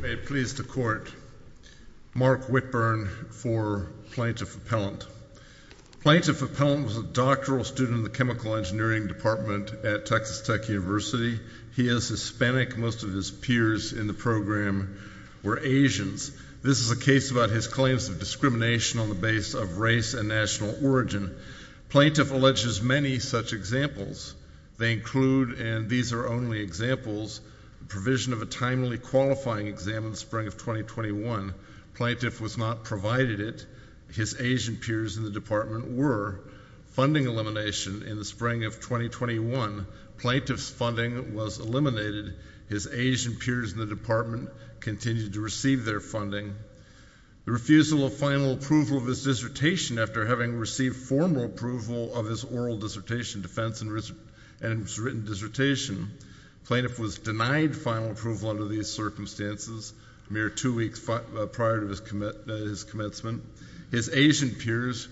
May it please the Court, Mark Whitburn for Plaintiff Appellant. Plaintiff Appellant was a doctoral student in the chemical engineering department at Texas Tech University. He is Hispanic. Most of his peers in the program were Asians. This is a case about his claims of discrimination on the basis of race and national origin. Plaintiff alleges many such examples. They include, and these are only examples, the provision of a timely qualifying exam in the spring of 2021. Plaintiff was not provided it. His Asian peers in the department were. Funding elimination in the spring of 2021. Plaintiff's funding was eliminated. His Asian peers in the department continued to receive their funding. The refusal of final approval of his dissertation after having received formal approval of his oral dissertation defense and his written dissertation. Plaintiff was denied final approval under these circumstances a mere two weeks prior to his commencement. His Asian peers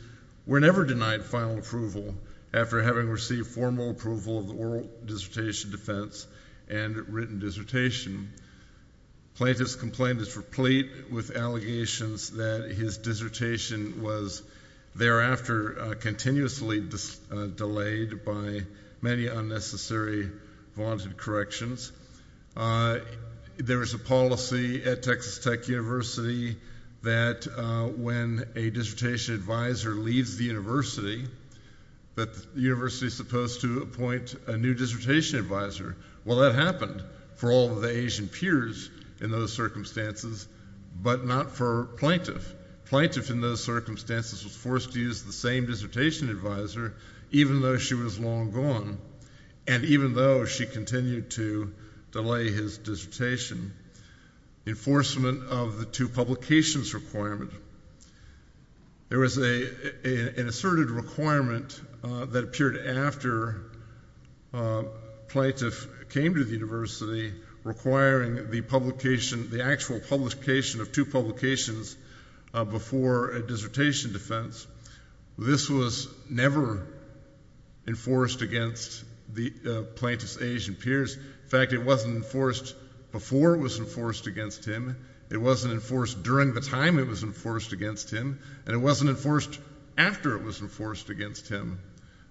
were never denied final approval after having received formal approval of oral dissertation defense and written dissertation. Plaintiff's complaint is replete with allegations that his dissertation was thereafter continuously delayed by many unnecessary, vaunted corrections. There was a policy at Texas Tech University that when a dissertation advisor leaves the university, that the university is supposed to appoint a new dissertation advisor. Well, that happened for all of the Asian peers in those circumstances, but not for plaintiff. Plaintiff in those circumstances was forced to use the same dissertation advisor even though she was long gone and even though she continued to delay his dissertation. Enforcement of the two publications requirement. There was an asserted requirement that appeared after plaintiff came to the university requiring the publication, the actual publication of two publications before a dissertation defense. This was never enforced against the plaintiff's Asian peers. In fact, it wasn't enforced before it was enforced against him. It wasn't enforced during the time it was enforced against him, and it wasn't enforced after it was enforced against him.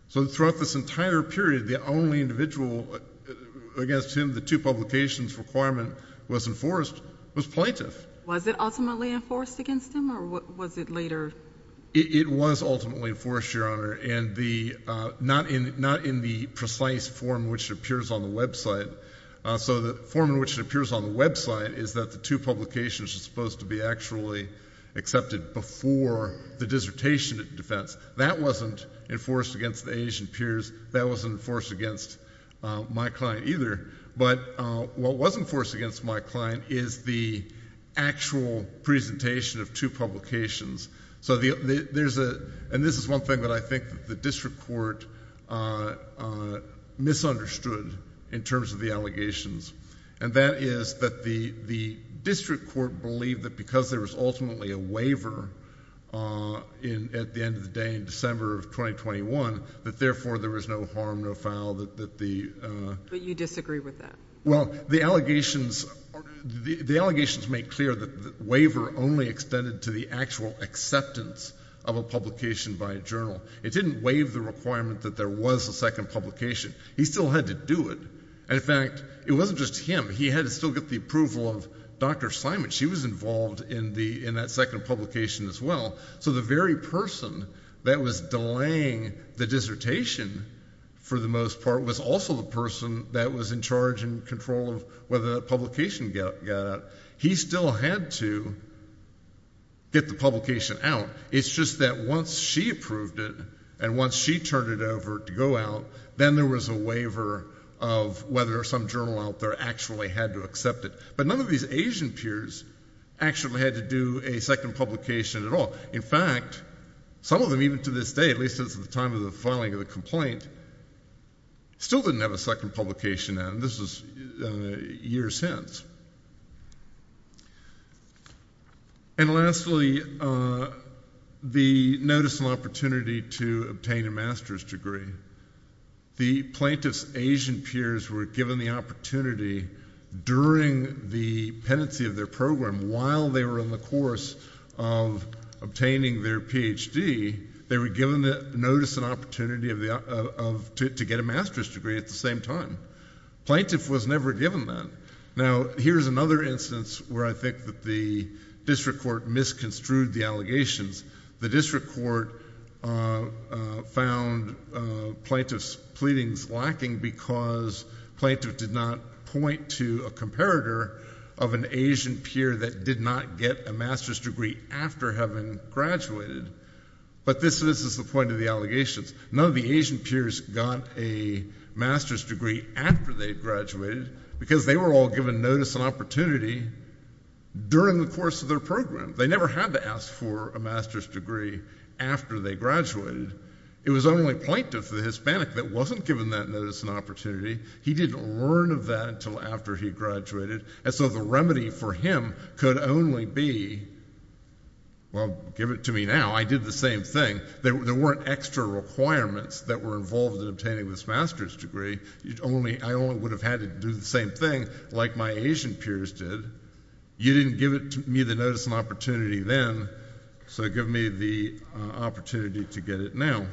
So throughout this entire period, the only individual against whom the two publications requirement was enforced was plaintiff. Was it ultimately enforced against him or was it later? It was ultimately enforced, Your Honor, and not in the precise form which appears on the website. So the form in which it appears on the website is that the two publications are supposed to be actually accepted before the dissertation defense. That wasn't enforced against the Asian peers. That wasn't enforced against my client either. But what was enforced against my client is the actual presentation of two publications. So there's a, and this is one thing that I think the district court misunderstood in terms of the allegations, and that is that the district court believed that because there was ultimately a waiver in, at the end of the day in December of 2021, that therefore there was no harm, no foul, that, that the, but you disagree with that. Well, the allegations, the allegations make clear that the waiver only extended to the actual acceptance of a publication by a journal. It didn't waive the requirement that there was a second publication. He still had to do it. And in fact, it wasn't just him. He had to still get the approval of Dr. Simon. She was involved in the, in that second publication as well. So the very person that was delaying the dissertation for the most part was also the person that was in charge and control of whether that publication got, got out. He still had to get the publication out. It's just that once she approved it, and once she turned it over to go out, then there was a waiver of whether some journal out there actually had to accept it. But none of these Asian peers actually had to do a second publication at all. In fact, some of them even to this day, at least since the time of the filing of the complaint, still didn't have a second publication out, and this was a year since. And lastly, the notice and opportunity to obtain a master's degree. The plaintiff's Asian peers were given the opportunity during the pendency of their program while they were in the course of obtaining their PhD, they were given the notice and opportunity of, to get a master's degree at the same time. Plaintiff was never given that. Now here's another instance where I think that the district court misconstrued the allegations. The district court found plaintiff's pleadings lacking because plaintiff did not point to a comparator of an Asian peer that did not get a master's degree after having graduated. But this is the point of the allegations. None of the Asian peers got a master's degree after they graduated because they were all given notice and opportunity during the course of their program. They never had to ask for a master's degree after they graduated. It was only plaintiff, the Hispanic, that wasn't given that notice and opportunity. He didn't learn of that until after he graduated, and so the remedy for him could only be, well, give it to me now. I did the same thing. There weren't extra requirements that were involved in obtaining this master's degree. I only would have had to do the same thing like my Asian peers did. You didn't give me the notice and opportunity then, so give me the opportunity to get it now.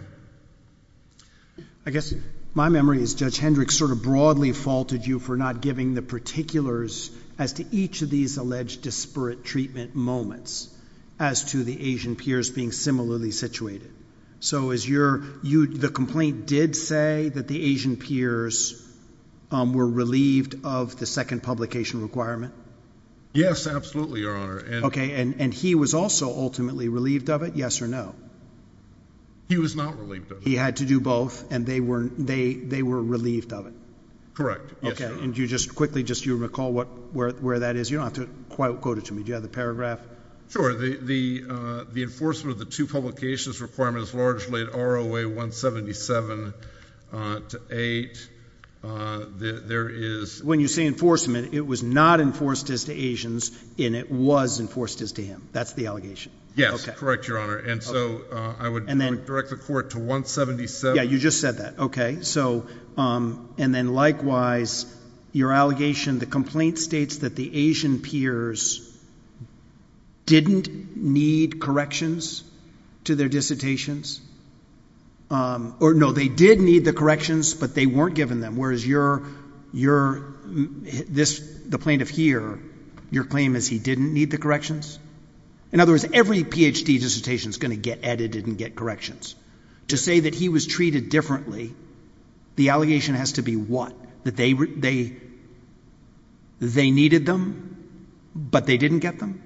I guess my memory is Judge Hendricks sort of broadly faulted you for not giving the particulars as to each of these alleged disparate treatment moments as to the Asian peers being similarly situated. So the complaint did say that the Asian peers were relieved of the second publication requirement? Yes, absolutely, Your Honor. Okay, and he was also ultimately relieved of it, yes or no? He was not relieved of it. He had to do both, and they were relieved of it? Correct, yes, Your Honor. Okay, and just quickly, just so you recall where that is, you don't have to quote it to me. Do you have the paragraph? Sure, the enforcement of the two publications requirement is largely at ROA 177 to 8. When you say enforcement, it was not enforced as to Asians, and it was enforced as to him. That's the allegation. Yes, correct, Your Honor, and so I would direct the court to 177. Yeah, you just said that, okay. And then likewise, your allegation, the complaint states that the Asian peers didn't need corrections to their dissertations? No, they did need the corrections, but they weren't given them, whereas the plaintiff here, your claim is he didn't need the corrections? In other words, every Ph.D. dissertation is going to get edited and get corrections. To say that he was treated differently, the allegation has to be what? That they needed them, but they didn't get them?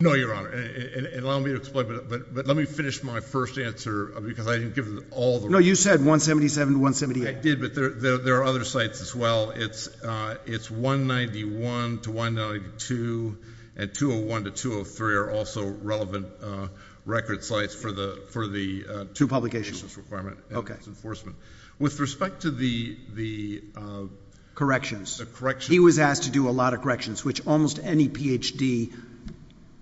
No, Your Honor, and allow me to explain, but let me finish my first answer because I didn't give all the records. No, you said 177 to 178. I did, but there are other sites as well. It's 191 to 192, and 201 to 203 are also relevant record sites for the two publications requirement and its enforcement. With respect to the corrections, he was asked to do a lot of corrections, which almost any Ph.D.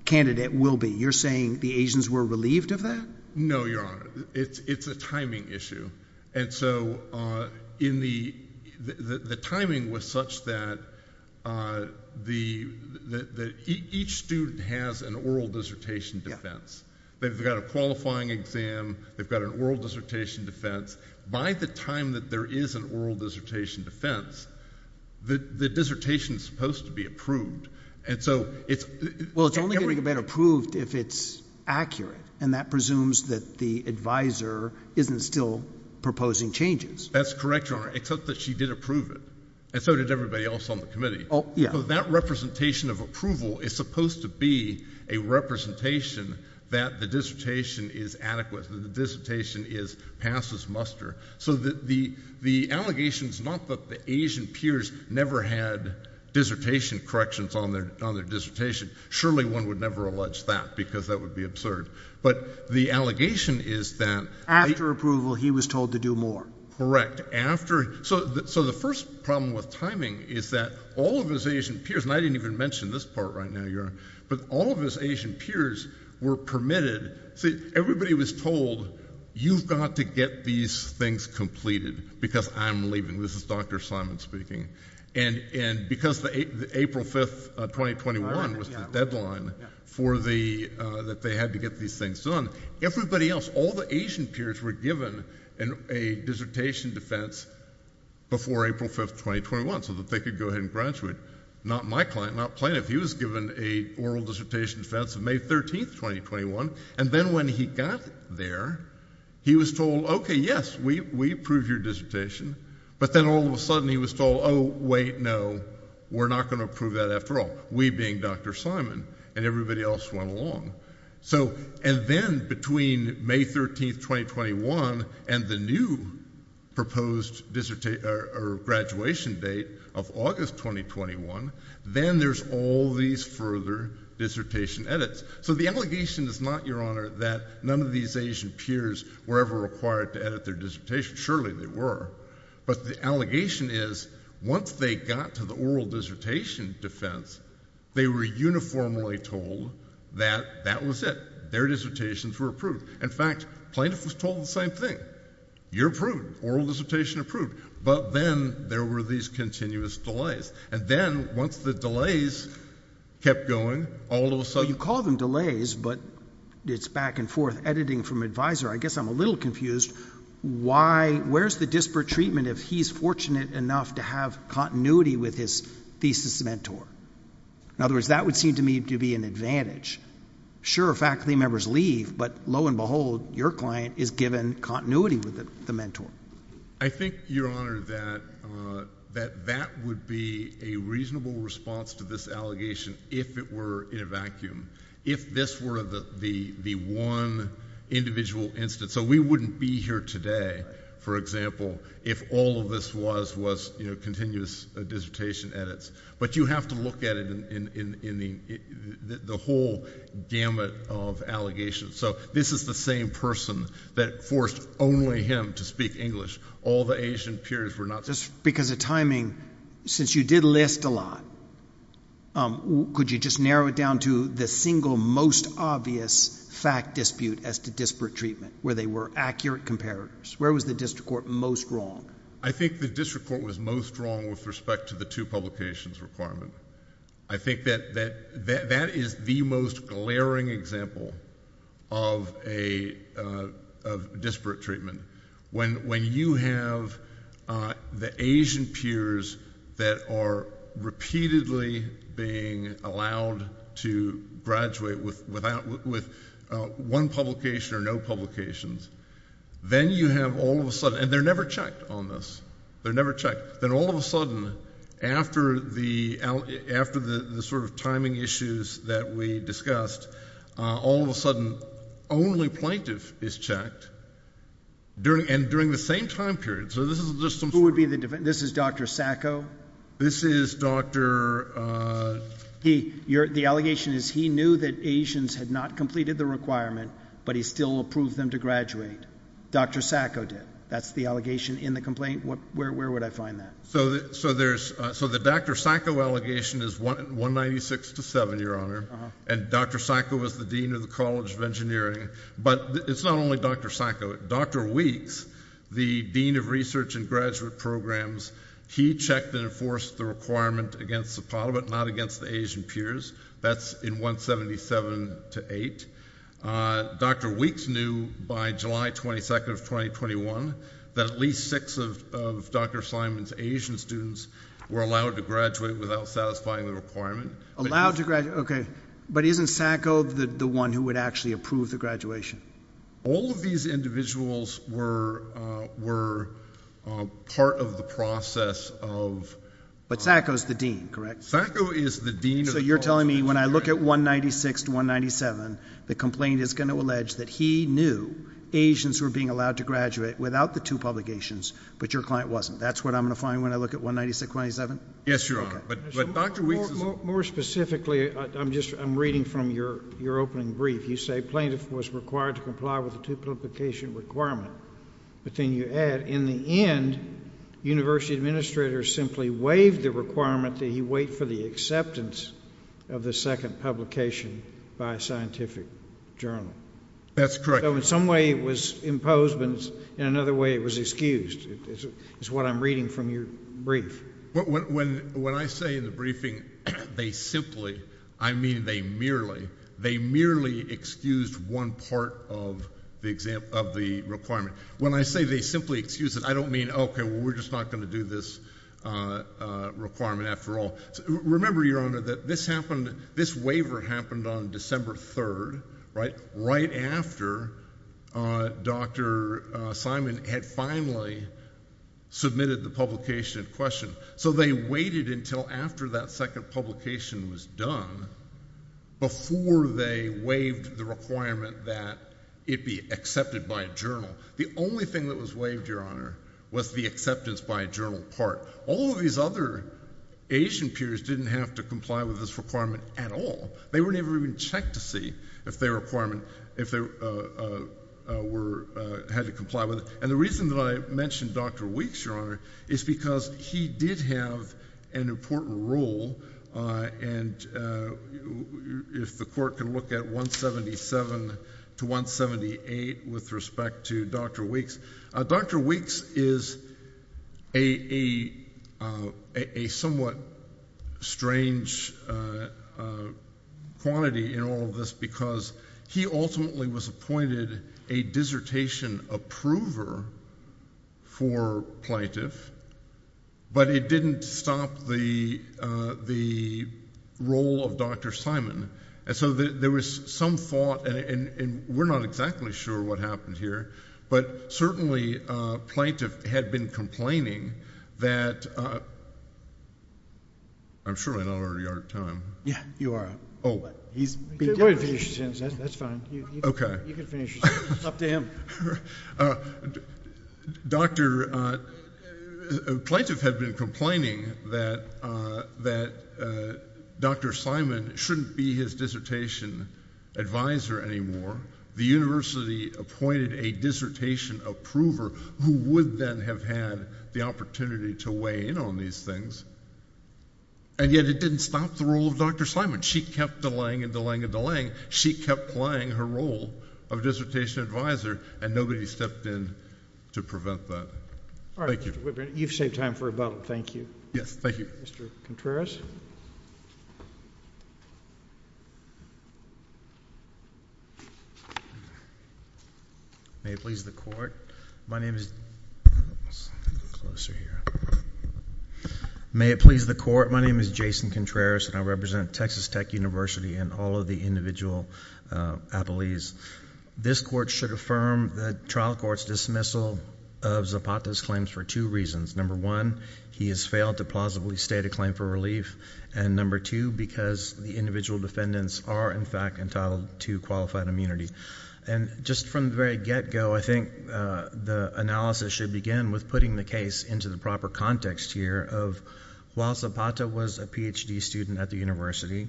candidate will be. You're saying the Asians were relieved of that? No, Your Honor. It's a timing issue, and so the timing was such that each student has an oral dissertation defense. They've got a qualifying exam. They've got an oral dissertation defense. By the time that there is an oral dissertation defense, the dissertation is supposed to be approved. Well, it's only going to get approved if it's accurate, and that presumes that the advisor isn't still proposing changes. That's correct, Your Honor, except that she did approve it, and so did everybody else on the committee. Oh, yeah. Because that representation of approval is supposed to be a representation that the dissertation is adequate, that the dissertation passes muster. So the allegation is not that the Asian peers never had dissertation corrections on their dissertation. Surely one would never allege that because that would be absurd, but the allegation is that— After approval, he was told to do more. Correct. So the first problem with timing is that all of his Asian peers, and I didn't even mention this part right now, Your Honor, but all of his Asian peers were permitted—see, everybody was told, you've got to get these things completed because I'm leaving. This is Dr. Simon speaking. And because April 5th, 2021 was the deadline that they had to get these things done, everybody else, all the Asian peers were given a dissertation defense before April 5th, 2021, so that they could go ahead and graduate. Not my client, not plaintiff. He was given an oral dissertation defense on May 13th, 2021, and then when he got there, he was told, okay, yes, we approve your dissertation, but then all of a sudden he was told, oh, wait, no, we're not going to approve that after all, we being Dr. Simon, and everybody else went along. And then between May 13th, 2021 and the new proposed graduation date of August 2021, then there's all these further dissertation edits. So the allegation is not, Your Honor, that none of these Asian peers were ever required to edit their dissertation. Surely they were. But the allegation is once they got to the oral dissertation defense, they were uniformly told that that was it. Their dissertations were approved. In fact, plaintiff was told the same thing. You're approved. Oral dissertation approved. But then there were these continuous delays. And then once the delays kept going, all of a sudden — You call them delays, but it's back and forth. Editing from Advisor, I guess I'm a little confused. Where's the disparate treatment if he's fortunate enough to have continuity with his thesis mentor? In other words, that would seem to me to be an advantage. Sure, faculty members leave, but lo and behold, your client is given continuity with the mentor. I think, Your Honor, that that would be a reasonable response to this allegation if it were in a vacuum, if this were the one individual instance. So we wouldn't be here today, for example, if all of this was continuous dissertation edits. But you have to look at it in the whole gamut of allegations. So this is the same person that forced only him to speak English. All the Asian peers were not — Just because of timing, since you did list a lot, could you just narrow it down to the single most obvious fact dispute as to disparate treatment, where they were accurate comparators? Where was the district court most wrong? I think the district court was most wrong with respect to the two publications requirement. I think that that is the most glaring example of disparate treatment. When you have the Asian peers that are repeatedly being allowed to graduate with one publication or no publications, then you have all of a sudden — and they're never checked on this. They're never checked. Then all of a sudden, after the sort of timing issues that we discussed, all of a sudden, only plaintiff is checked, and during the same time period. So this is just some sort of — Who would be the — this is Dr. Sacco? This is Dr. — The allegation is he knew that Asians had not completed the requirement, but he still approved them to graduate. Dr. Sacco did. That's the allegation in the complaint. Where would I find that? So the Dr. Sacco allegation is 196 to 7, Your Honor, and Dr. Sacco was the dean of the College of Engineering. But it's not only Dr. Sacco. Dr. Weeks, the dean of research and graduate programs, he checked and enforced the requirement against Zapata, but not against the Asian peers. That's in 177 to 8. Dr. Weeks knew by July 22nd of 2021 that at least six of Dr. Simon's Asian students were allowed to graduate without satisfying the requirement. Allowed to graduate. Okay. But isn't Sacco the one who would actually approve the graduation? All of these individuals were part of the process of — But Sacco's the dean, correct? Sacco is the dean of the College of Engineering. It seems to me when I look at 196 to 197, the complaint is going to allege that he knew Asians were being allowed to graduate without the two publications, but your client wasn't. That's what I'm going to find when I look at 196, 197? Yes, Your Honor. But Dr. Weeks is — More specifically, I'm reading from your opening brief. You say plaintiff was required to comply with the two-publication requirement. But then you add, in the end, university administrators simply waived the requirement that he wait for the acceptance of the second publication by a scientific journal. That's correct. So in some way it was imposed, but in another way it was excused, is what I'm reading from your brief. When I say in the briefing they simply, I mean they merely, they merely excused one part of the requirement. When I say they simply excused it, I don't mean, okay, we're just not going to do this requirement after all. Remember, Your Honor, that this happened, this waiver happened on December 3rd, right? Right after Dr. Simon had finally submitted the publication in question. So they waited until after that second publication was done before they waived the requirement that it be accepted by a journal. The only thing that was waived, Your Honor, was the acceptance by a journal part. All of these other Asian peers didn't have to comply with this requirement at all. They were never even checked to see if their requirement, if they were, had to comply with it. And the reason that I mentioned Dr. Weeks, Your Honor, is because he did have an important role, and if the Court can look at 177 to 178 with respect to Dr. Weeks. Dr. Weeks is a somewhat strange quantity in all of this because he ultimately was appointed a dissertation approver for plaintiff, but it didn't stop the role of Dr. Simon. And so there was some thought, and we're not exactly sure what happened here, but certainly plaintiff had been complaining that, I'm sure I'm not already out of time. Yeah, you are. Oh. That's fine. Okay. You can finish. It's up to him. Doctor, plaintiff had been complaining that Dr. Simon shouldn't be his dissertation advisor anymore. The university appointed a dissertation approver who would then have had the opportunity to weigh in on these things, and yet it didn't stop the role of Dr. Simon. She kept delaying and delaying and delaying. She kept playing her role of dissertation advisor, and nobody stepped in to prevent that. Thank you. All right, Mr. Whitburn, you've saved time for a vote. Thank you. Yes, thank you. Mr. Contreras? May it please the Court, my name is Jason Contreras, and I represent Texas Tech University and all of the individual appellees. This Court should affirm the trial court's dismissal of Zapata's claims for two reasons. Number one, he has failed to plausibly state a claim for relief, and number two, because the individual defendants are, in fact, entitled to qualified immunity. And just from the very get-go, I think the analysis should begin with putting the case into the proper context here of while Zapata was a Ph.D. student at the university,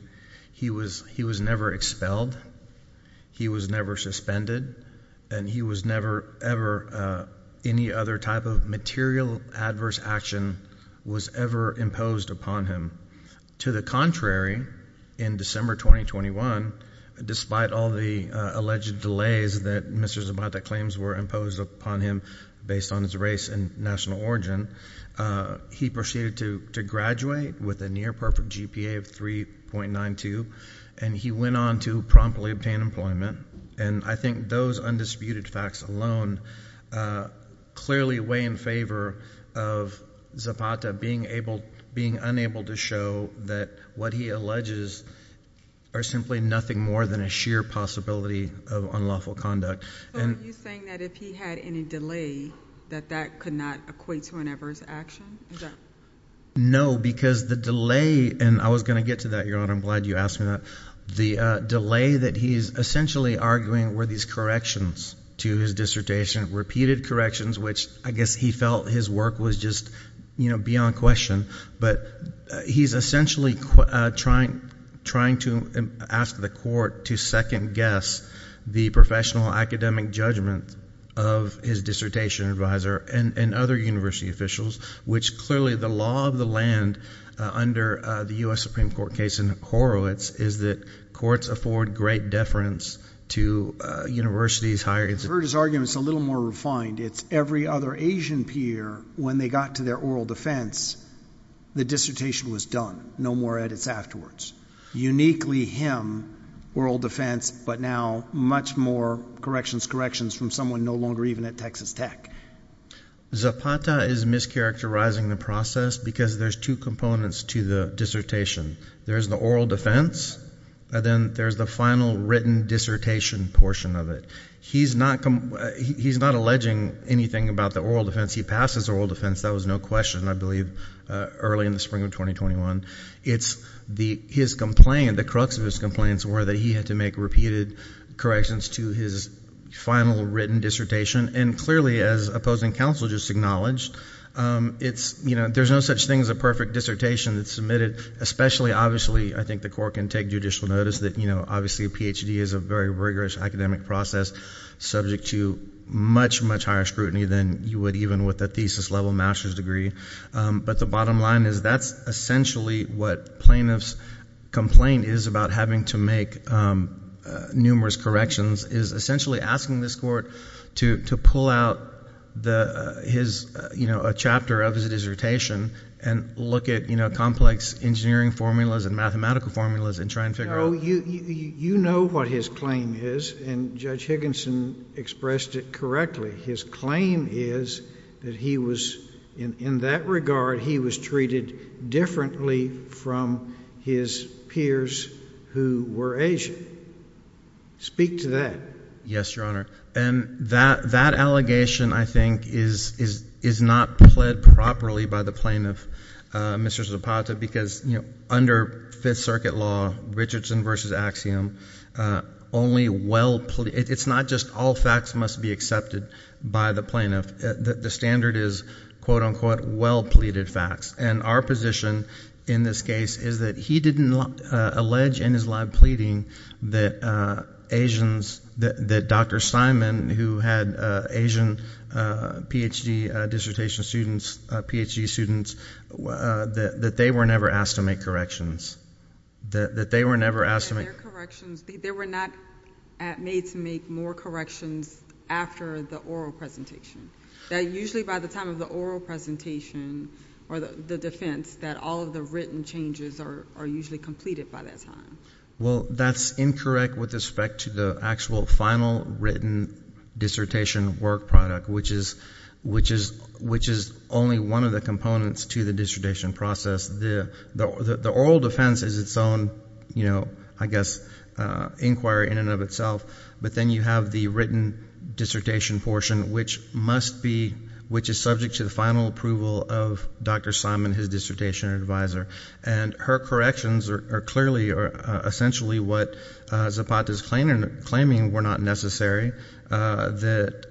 he was never expelled, he was never suspended, and he was never ever any other type of material adverse action was ever imposed upon him. To the contrary, in December 2021, despite all the alleged delays that Mr. Zapata claims were imposed upon him based on his race and national origin, he proceeded to graduate with a near-perfect GPA of 3.92, and he went on to promptly obtain employment. And I think those undisputed facts alone clearly weigh in favor of Zapata being unable to show that what he alleges are simply nothing more than a sheer possibility of unlawful conduct. But are you saying that if he had any delay, that that could not equate to an adverse action? No, because the delay, and I was going to get to that, Your Honor, I'm glad you asked me that. The delay that he is essentially arguing were these corrections to his dissertation, repeated corrections, which I guess he felt his work was just beyond question. But he's essentially trying to ask the court to second-guess the professional academic judgment of his dissertation advisor and other university officials, which clearly the law of the land under the U.S. Supreme Court case in Horowitz is that courts afford great deference to universities, higher institutions. I've heard his arguments a little more refined. It's every other Asian peer, when they got to their oral defense, the dissertation was done. No more edits afterwards. Uniquely him, oral defense, but now much more corrections, corrections from someone no longer even at Texas Tech. Zapata is mischaracterizing the process because there's two components to the dissertation. There's the oral defense, and then there's the final written dissertation portion of it. He's not alleging anything about the oral defense. He passes oral defense. That was no question, I believe, early in the spring of 2021. His complaint, the crux of his complaint, was that he had to make repeated corrections to his final written dissertation. And clearly, as opposing counsel just acknowledged, there's no such thing as a perfect dissertation that's submitted, especially, obviously, I think the court can take judicial notice that, obviously, a PhD is a very rigorous academic process subject to much, much higher scrutiny than you would even with a thesis-level master's degree. But the bottom line is that's essentially what plaintiff's complaint is about having to make numerous corrections, is essentially asking this court to pull out a chapter of his dissertation and look at complex engineering formulas and mathematical formulas and try and figure out. No, you know what his claim is, and Judge Higginson expressed it correctly. His claim is that he was, in that regard, he was treated differently from his peers who were Asian. Speak to that. Yes, Your Honor. And that allegation, I think, is not pled properly by the plaintiff, Mr. Zapata, because under Fifth Circuit law, Richardson v. Axiom, only well-pleaded, it's not just all facts must be accepted by the plaintiff. The standard is, quote, unquote, well-pleaded facts. And our position in this case is that he didn't allege in his live pleading that Asians, that Dr. Simon, who had Asian PhD dissertation students, PhD students, that they were never asked to make corrections, that they were never asked to make corrections. They were not made to make more corrections after the oral presentation. That usually by the time of the oral presentation or the defense, that all of the written changes are usually completed by that time. Well, that's incorrect with respect to the actual final written dissertation work product, which is only one of the components to the dissertation process. The oral defense is its own, you know, I guess, inquiry in and of itself. But then you have the written dissertation portion, which must be, which is subject to the final approval of Dr. Simon, his dissertation advisor. And her corrections are clearly or essentially what Zapata's claiming were not necessary, that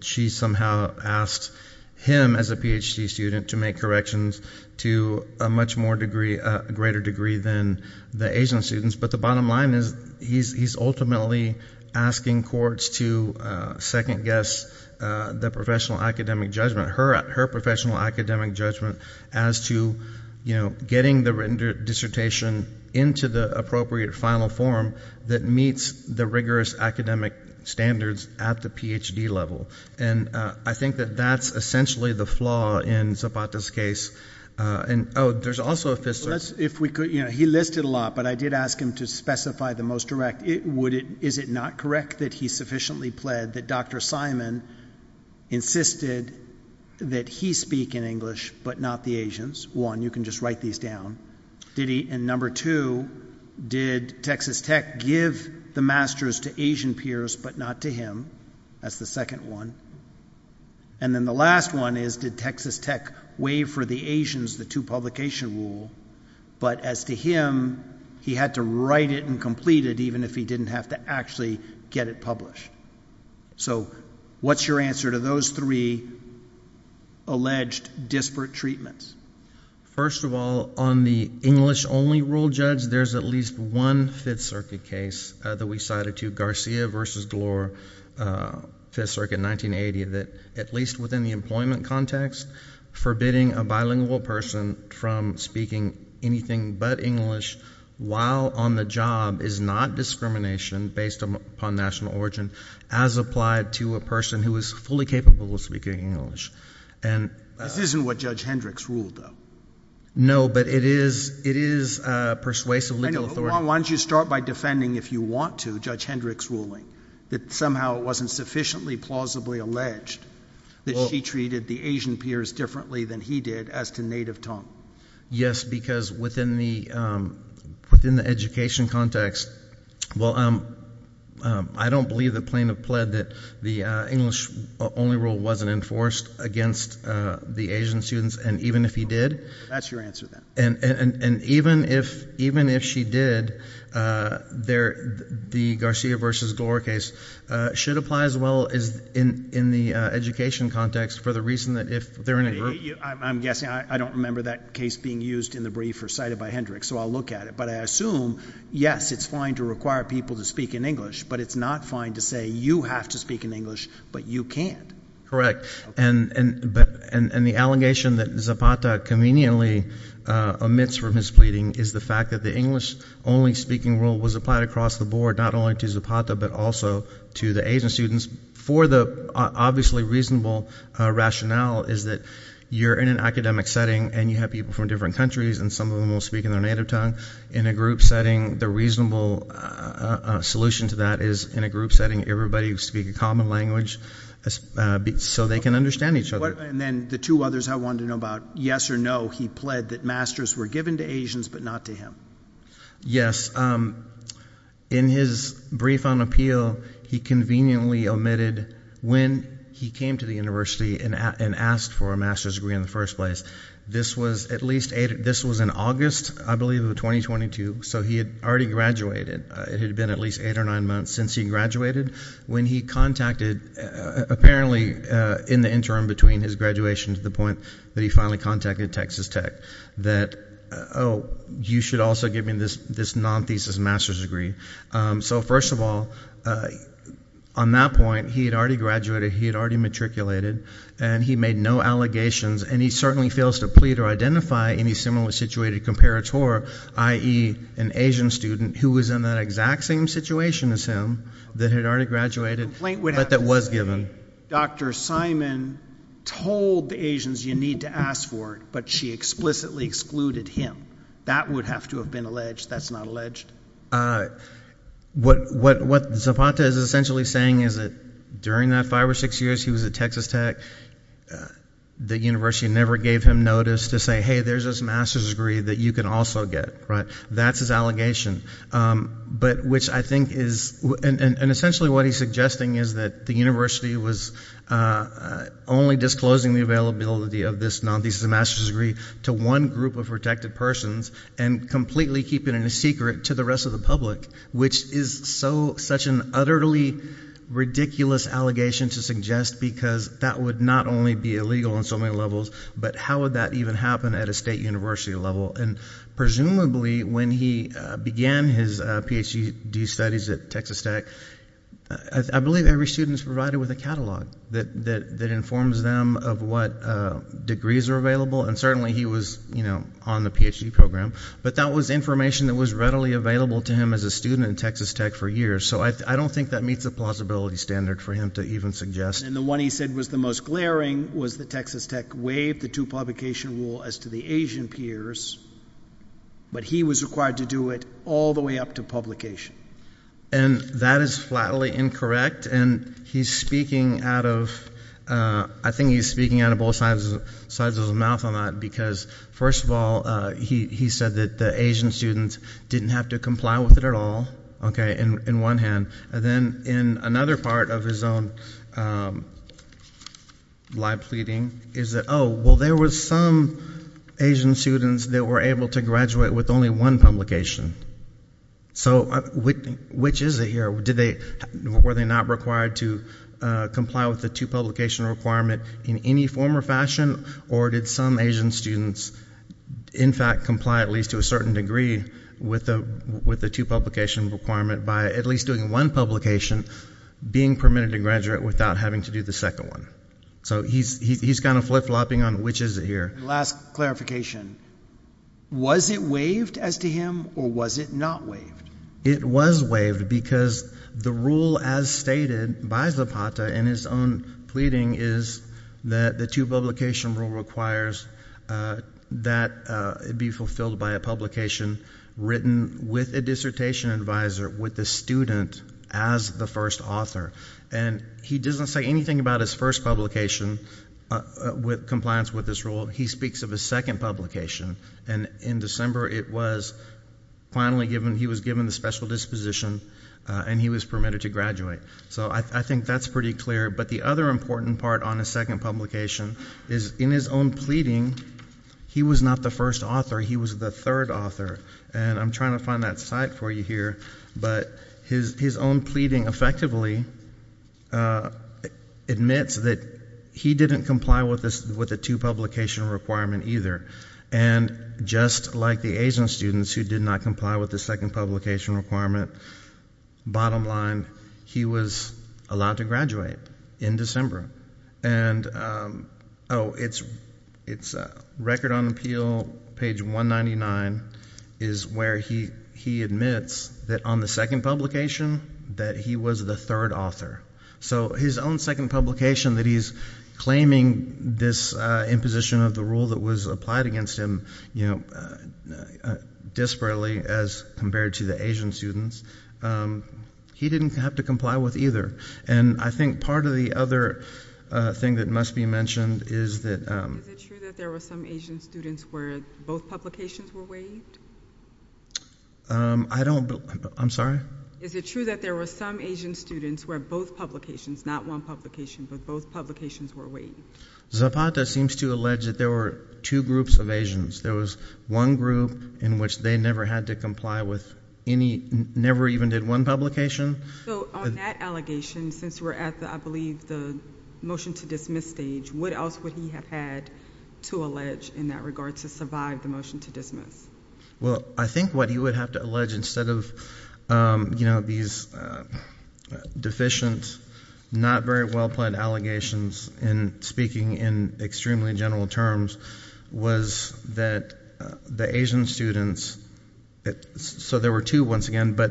she somehow asked him as a PhD student to make corrections to a much more degree, a greater degree than the Asian students. But the bottom line is he's ultimately asking courts to second guess the professional academic judgment, her professional academic judgment as to, you know, getting the written dissertation into the appropriate final form that meets the rigorous academic standards at the PhD level. And I think that that's essentially the flaw in Zapata's case. Oh, there's also a fifth source. He listed a lot, but I did ask him to specify the most direct. Is it not correct that he sufficiently pled that Dr. Simon insisted that he speak in English but not the Asians? One, you can just write these down. And number two, did Texas Tech give the master's to Asian peers but not to him? That's the second one. And then the last one is did Texas Tech waive for the Asians the two-publication rule, but as to him, he had to write it and complete it even if he didn't have to actually get it published. So what's your answer to those three alleged disparate treatments? First of all, on the English-only rule, Judge, there's at least one Fifth Circuit case that we cited to, Garcia v. Gloor, Fifth Circuit, 1980, that at least within the employment context, forbidding a bilingual person from speaking anything but English while on the job is not discrimination based upon national origin as applied to a person who is fully capable of speaking English. This isn't what Judge Hendricks ruled, though. No, but it is persuasive legal authority. Why don't you start by defending, if you want to, Judge Hendricks' ruling, that somehow it wasn't sufficiently plausibly alleged that she treated the Asian peers differently than he did as to native tongue? Yes, because within the education context, well, I don't believe the plaintiff pled that the English-only rule wasn't enforced against the Asian students, and even if he did, and even if she did, the Garcia v. Gloor case should apply as well in the education context for the reason that if they're in a group— I'm guessing. I don't remember that case being used in the brief or cited by Hendricks, so I'll look at it. But I assume, yes, it's fine to require people to speak in English, but it's not fine to say you have to speak in English, but you can't. Correct, and the allegation that Zapata conveniently omits from his pleading is the fact that the English-only speaking rule was applied across the board, not only to Zapata, but also to the Asian students. For the obviously reasonable rationale is that you're in an academic setting, and you have people from different countries, and some of them will speak in their native tongue. In a group setting, the reasonable solution to that is in a group setting, everybody speak a common language so they can understand each other. And then the two others I wanted to know about, yes or no, he pled that masters were given to Asians but not to him. Yes, in his brief on appeal, he conveniently omitted when he came to the university and asked for a master's degree in the first place. This was in August, I believe, of 2022, so he had already graduated. It had been at least eight or nine months since he graduated when he contacted, apparently in the interim between his graduation to the point that he finally contacted Texas Tech, that, oh, you should also give me this non-thesis master's degree. So first of all, on that point, he had already graduated, he had already matriculated, and he made no allegations, and he certainly fails to plead or identify any similar-situated comparator, i.e., an Asian student who was in that exact same situation as him that had already graduated but that was given. Dr. Simon told the Asians you need to ask for it, but she explicitly excluded him. That would have to have been alleged. That's not alleged. What Zapata is essentially saying is that during that five or six years he was at Texas Tech, the university never gave him notice to say, hey, there's this master's degree that you can also get. That's his allegation, but which I think is – and essentially what he's suggesting is that the university was only disclosing the availability of this non-thesis master's degree to one group of protected persons and completely keeping it a secret to the rest of the public, which is such an utterly ridiculous allegation to suggest because that would not only be illegal on so many levels, but how would that even happen at a state university level? And presumably when he began his Ph.D. studies at Texas Tech, I believe every student is provided with a catalog that informs them of what degrees are available, and certainly he was on the Ph.D. program, but that was information that was readily available to him as a student at Texas Tech for years, so I don't think that meets the plausibility standard for him to even suggest. And the one he said was the most glaring was that Texas Tech waived the two-publication rule as to the Asian peers, but he was required to do it all the way up to publication. And that is flatly incorrect, and he's speaking out of – I think he's speaking out of both sides of his mouth on that because, first of all, he said that the Asian students didn't have to comply with it at all, okay, in one hand, and then in another part of his own live pleading is that, oh, well, there were some Asian students that were able to graduate with only one publication. So which is it here? Were they not required to comply with the two-publication requirement in any form or fashion, or did some Asian students in fact comply at least to a certain degree with the two-publication requirement by at least doing one publication, being permitted to graduate without having to do the second one? So he's kind of flip-flopping on which is it here. Last clarification, was it waived as to him, or was it not waived? It was waived because the rule, as stated by Zapata in his own pleading, is that the two-publication rule requires that it be fulfilled by a publication written with a dissertation advisor, with the student as the first author. And he doesn't say anything about his first publication with compliance with this rule. He speaks of his second publication, and in December it was finally given. He was given the special disposition, and he was permitted to graduate. So I think that's pretty clear. But the other important part on his second publication is in his own pleading, he was not the first author. He was the third author. And I'm trying to find that site for you here. But his own pleading effectively admits that he didn't comply with the two-publication requirement either. And just like the Asian students who did not comply with the second publication requirement, bottom line, he was allowed to graduate in December. And, oh, it's Record on Appeal, page 199, is where he admits that on the second publication that he was the third author. So his own second publication that he's claiming this imposition of the rule that was applied against him, you know, desperately as compared to the Asian students, he didn't have to comply with either. And I think part of the other thing that must be mentioned is that – Is it true that there were some Asian students where both publications were waived? I don't – I'm sorry? Is it true that there were some Asian students where both publications, not one publication, but both publications were waived? Zapata seems to allege that there were two groups of Asians. There was one group in which they never had to comply with any – never even did one publication. So on that allegation, since we're at, I believe, the motion to dismiss stage, what else would he have had to allege in that regard to survive the motion to dismiss? Well, I think what he would have to allege instead of, you know, these deficient, not very well-planned allegations in speaking in extremely general terms was that the Asian students – so there were two, once again, but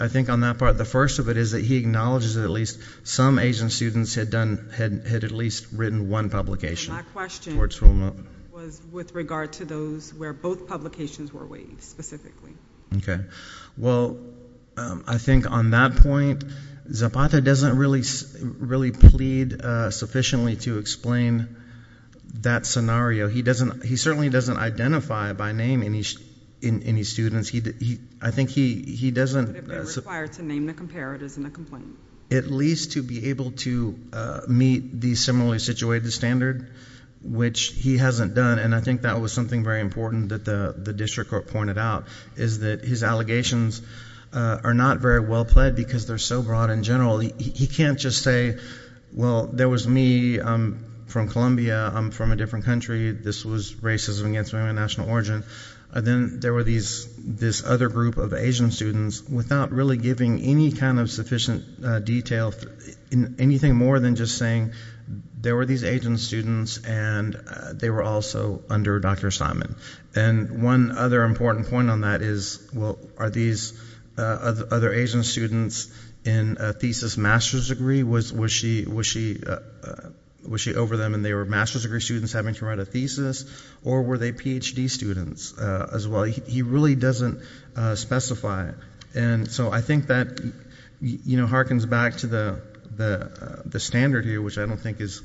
I think on that part, the first of it is that he acknowledges that at least some Asian students had done – had at least written one publication. My question was with regard to those where both publications were waived specifically. Okay. Well, I think on that point, Zapata doesn't really plead sufficiently to explain that scenario. He doesn't – he certainly doesn't identify by name any students. I think he doesn't – Would have been required to name the comparatives in the complaint. At least to be able to meet the similarly situated standard, which he hasn't done, and I think that was something very important that the district court pointed out, is that his allegations are not very well-plaid because they're so broad and general. He can't just say, well, there was me. I'm from Colombia. I'm from a different country. This was racism against women of national origin. Then there were this other group of Asian students without really giving any kind of sufficient detail, anything more than just saying there were these Asian students and they were also under Dr. Simon. And one other important point on that is, well, are these other Asian students in a thesis master's degree? Was she over them and they were master's degree students having to write a thesis? Or were they Ph.D. students as well? He really doesn't specify it. And so I think that harkens back to the standard here, which I don't think is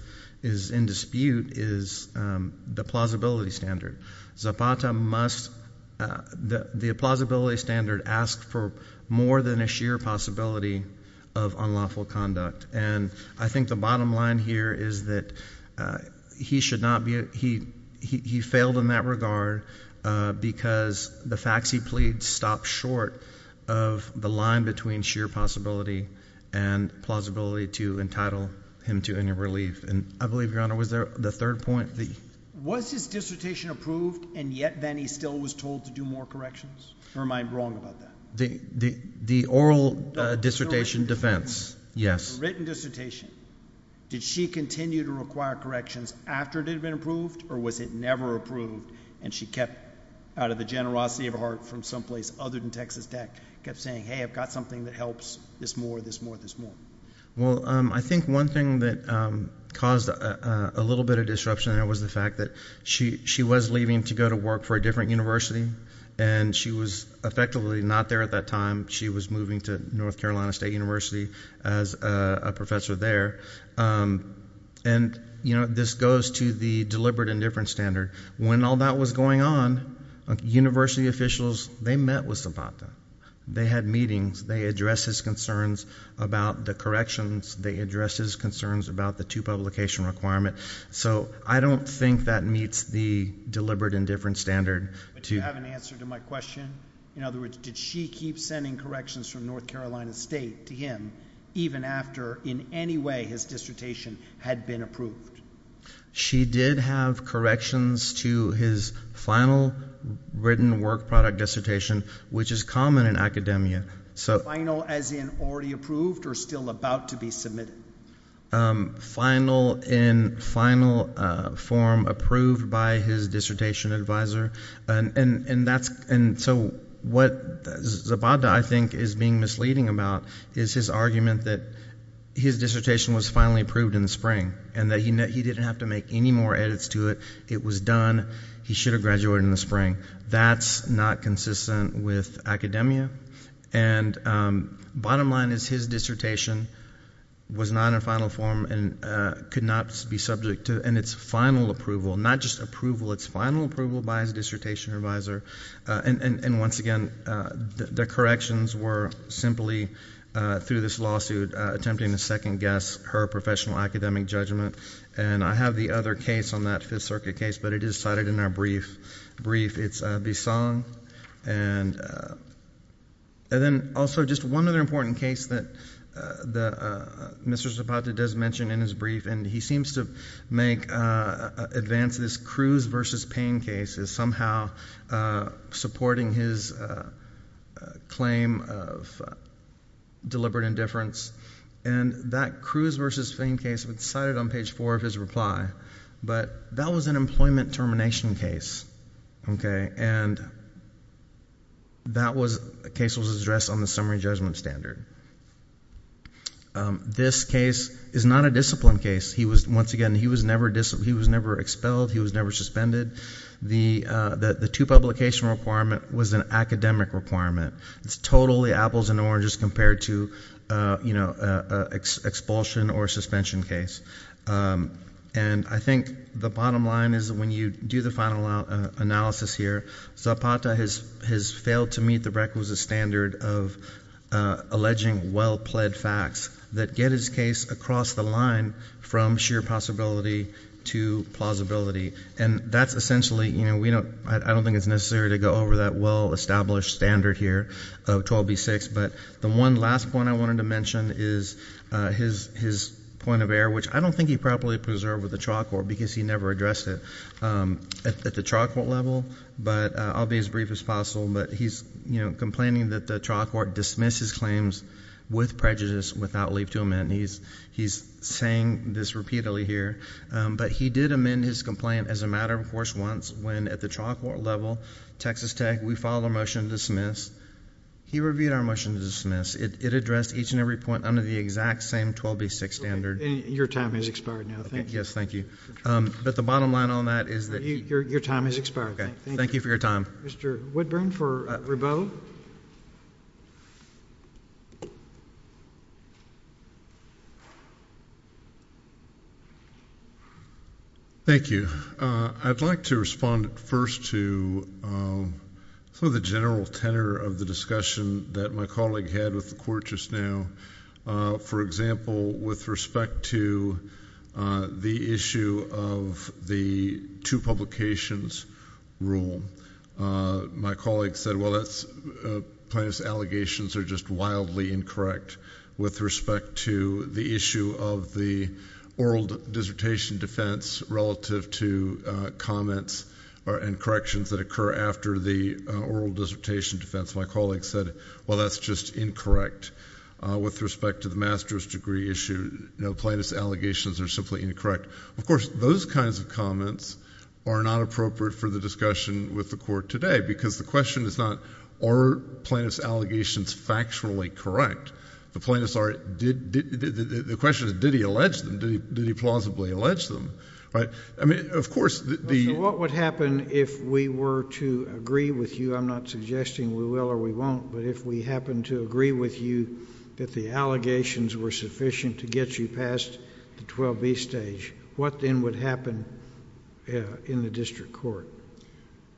in dispute, is the plausibility standard. Zapata must – the plausibility standard asks for more than a sheer possibility of unlawful conduct. And I think the bottom line here is that he should not be – he failed in that regard because the facts he pleads stop short of the line between sheer possibility and plausibility to entitle him to any relief. And I believe, Your Honor, was there the third point? Was his dissertation approved and yet then he still was told to do more corrections? Or am I wrong about that? The oral dissertation defense, yes. The written dissertation, did she continue to require corrections after it had been approved? Or was it never approved and she kept, out of the generosity of her heart from someplace other than Texas Tech, kept saying, hey, I've got something that helps this more, this more, this more? Well, I think one thing that caused a little bit of disruption there was the fact that she was leaving to go to work for a different university and she was effectively not there at that time. She was moving to North Carolina State University as a professor there. And, you know, this goes to the deliberate indifference standard. When all that was going on, university officials, they met with Zapata. They had meetings. They addressed his concerns about the corrections. They addressed his concerns about the two-publication requirement. So I don't think that meets the deliberate indifference standard. But do you have an answer to my question? In other words, did she keep sending corrections from North Carolina State to him even after, in any way, his dissertation had been approved? She did have corrections to his final written work product dissertation, which is common in academia. Final as in already approved or still about to be submitted? Final in final form approved by his dissertation advisor. And so what Zapata, I think, is being misleading about is his argument that his dissertation was finally approved in the spring and that he didn't have to make any more edits to it. It was done. He should have graduated in the spring. That's not consistent with academia. And bottom line is his dissertation was not in final form and could not be subject to, and it's final approval, not just approval, it's final approval by his dissertation advisor. And once again, the corrections were simply through this lawsuit attempting to second-guess her professional academic judgment. And I have the other case on that Fifth Circuit case, but it is cited in our brief. It's Bissong. And then also just one other important case that Mr. Zapata does mention in his brief, and he seems to advance this Cruz v. Payne case as somehow supporting his claim of deliberate indifference. And that Cruz v. Payne case was cited on page four of his reply, but that was an employment termination case. And that case was addressed on the summary judgment standard. This case is not a discipline case. Once again, he was never expelled. He was never suspended. The two-publication requirement was an academic requirement. It's totally apples and oranges compared to expulsion or suspension case. And I think the bottom line is when you do the final analysis here, Zapata has failed to meet the requisite standard of alleging well-pled facts that get his case across the line from sheer possibility to plausibility. And that's essentially, you know, I don't think it's necessary to go over that well-established standard here of 12B6. But the one last point I wanted to mention is his point of error, which I don't think he properly preserved with the trial court because he never addressed it at the trial court level. But I'll be as brief as possible. But he's, you know, complaining that the trial court dismissed his claims with prejudice without leave to amend. He's saying this repeatedly here. But he did amend his complaint as a matter of course once when at the trial court level, Texas Tech, we filed a motion to dismiss. He reviewed our motion to dismiss. It addressed each and every point under the exact same 12B6 standard. Your time has expired now. Thank you. Yes, thank you. But the bottom line on that is that. Your time has expired. Thank you for your time. Mr. Woodburn for Rabeau. Thank you. I'd like to respond first to some of the general tenor of the discussion that my colleague had with the court just now. For example, with respect to the issue of the two publications rule, my colleague said, well, that's plaintiff's allegations are just wildly incorrect. With respect to the issue of the oral dissertation defense relative to comments and corrections that occur after the oral dissertation defense, my colleague said, well, that's just incorrect. With respect to the master's degree issue, plaintiff's allegations are simply incorrect. Of course, those kinds of comments are not appropriate for the discussion with the court today because the question is not, are plaintiff's allegations factually correct? The question is, did he allege them? Did he plausibly allege them? I mean, of course. What would happen if we were to agree with you? I'm not suggesting we will or we won't, but if we happen to agree with you that the allegations were sufficient to get you past the 12B stage, what then would happen in the district court?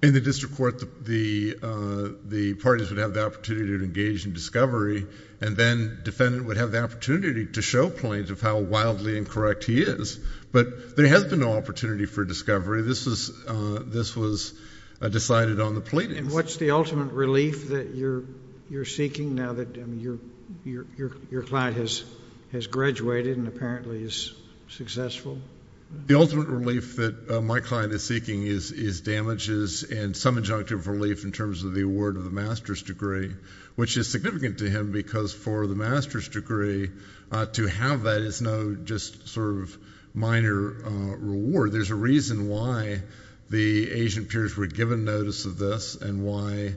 In the district court, the parties would have the opportunity to engage in discovery and then defendant would have the opportunity to show plaintiff how wildly incorrect he is. But there has been no opportunity for discovery. This was decided on the plaintiff's. And what's the ultimate relief that you're seeking now that your client has graduated and apparently is successful? The ultimate relief that my client is seeking is damages and some injunctive relief in terms of the award of the master's degree, which is significant to him because for the master's degree, to have that is no just sort of minor reward. There's a reason why the Asian peers were given notice of this and why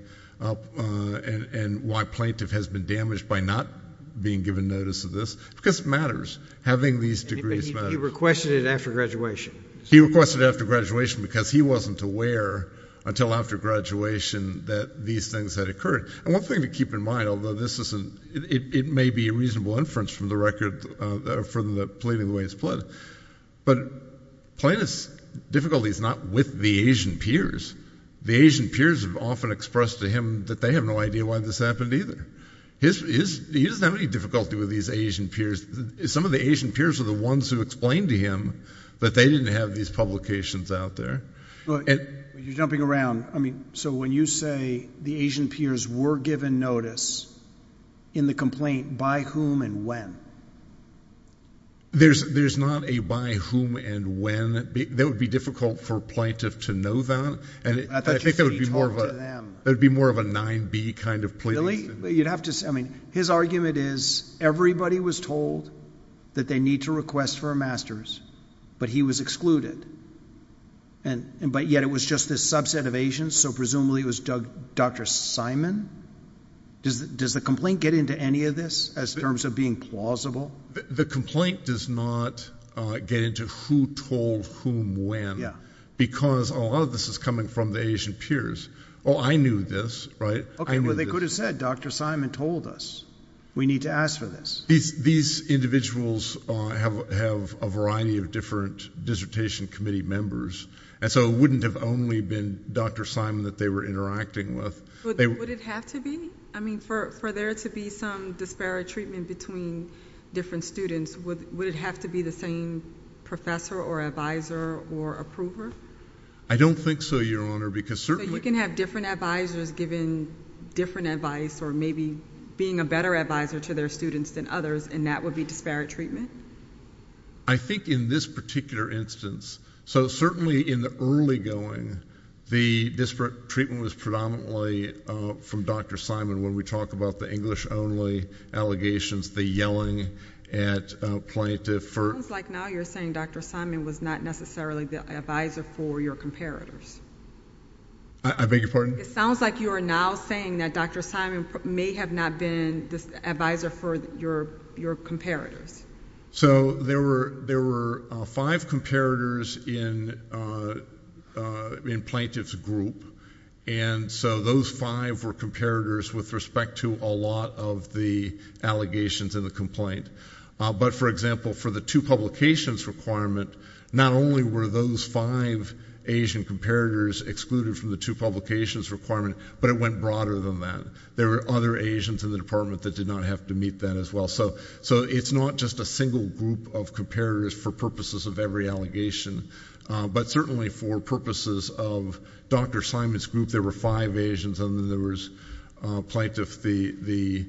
plaintiff has been damaged by not being given notice of this because it matters. Having these degrees matters. He requested it after graduation. He requested it after graduation because he wasn't aware until after graduation that these things had occurred. And one thing to keep in mind, although this isn't – it may be a reasonable inference from the record for the plaintiff the way it's plotted, but plaintiff's difficulty is not with the Asian peers. The Asian peers have often expressed to him that they have no idea why this happened either. He doesn't have any difficulty with these Asian peers. Some of the Asian peers are the ones who explained to him that they didn't have these publications out there. You're jumping around. So when you say the Asian peers were given notice in the complaint by whom and when? There's not a by whom and when. That would be difficult for a plaintiff to know that. I thought you said he talked to them. That would be more of a 9B kind of plea. Really? His argument is everybody was told that they need to request for a master's, but he was excluded. But yet it was just this subset of Asians, so presumably it was Dr. Simon? Does the complaint get into any of this as terms of being plausible? The complaint does not get into who told whom when because a lot of this is coming from the Asian peers. Oh, I knew this, right? Well, they could have said Dr. Simon told us we need to ask for this. These individuals have a variety of different dissertation committee members, and so it wouldn't have only been Dr. Simon that they were interacting with. Would it have to be? I mean, for there to be some disparate treatment between different students, would it have to be the same professor or advisor or approver? I don't think so, Your Honor. So you can have different advisors giving different advice or maybe being a better advisor to their students than others, and that would be disparate treatment? I think in this particular instance. So certainly in the early going, the disparate treatment was predominantly from Dr. Simon when we talk about the English-only allegations, the yelling at a plaintiff. It sounds like now you're saying Dr. Simon was not necessarily the advisor for your comparators. I beg your pardon? It sounds like you are now saying that Dr. Simon may have not been the advisor for your comparators. So there were five comparators in plaintiff's group, and so those five were comparators with respect to a lot of the allegations in the complaint. But, for example, for the two publications requirement, not only were those five Asian comparators excluded from the two publications requirement, but it went broader than that. There were other Asians in the department that did not have to meet that as well. So it's not just a single group of comparators for purposes of every allegation, but certainly for purposes of Dr. Simon's group, there were five Asians and then there was plaintiff, the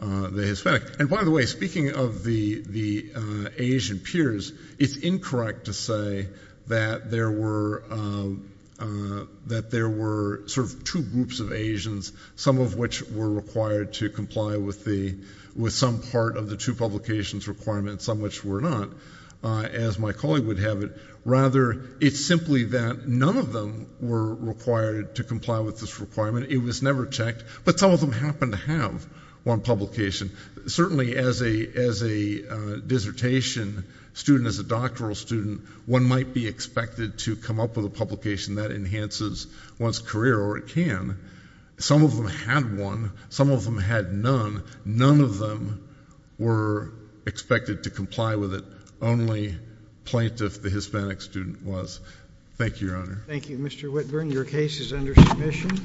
Hispanic. And, by the way, speaking of the Asian peers, it's incorrect to say that there were sort of two groups of Asians, some of which were required to comply with some part of the two publications requirement and some which were not, as my colleague would have it. Rather, it's simply that none of them were required to comply with this requirement. It was never checked. But some of them happened to have one publication. Certainly as a dissertation student, as a doctoral student, one might be expected to come up with a publication that enhances one's career, or it can. Some of them had one. Some of them had none. None of them were expected to comply with it. Only plaintiff, the Hispanic student, was. Thank you, Your Honor. Thank you, Mr. Whitburn. Your case is under submission.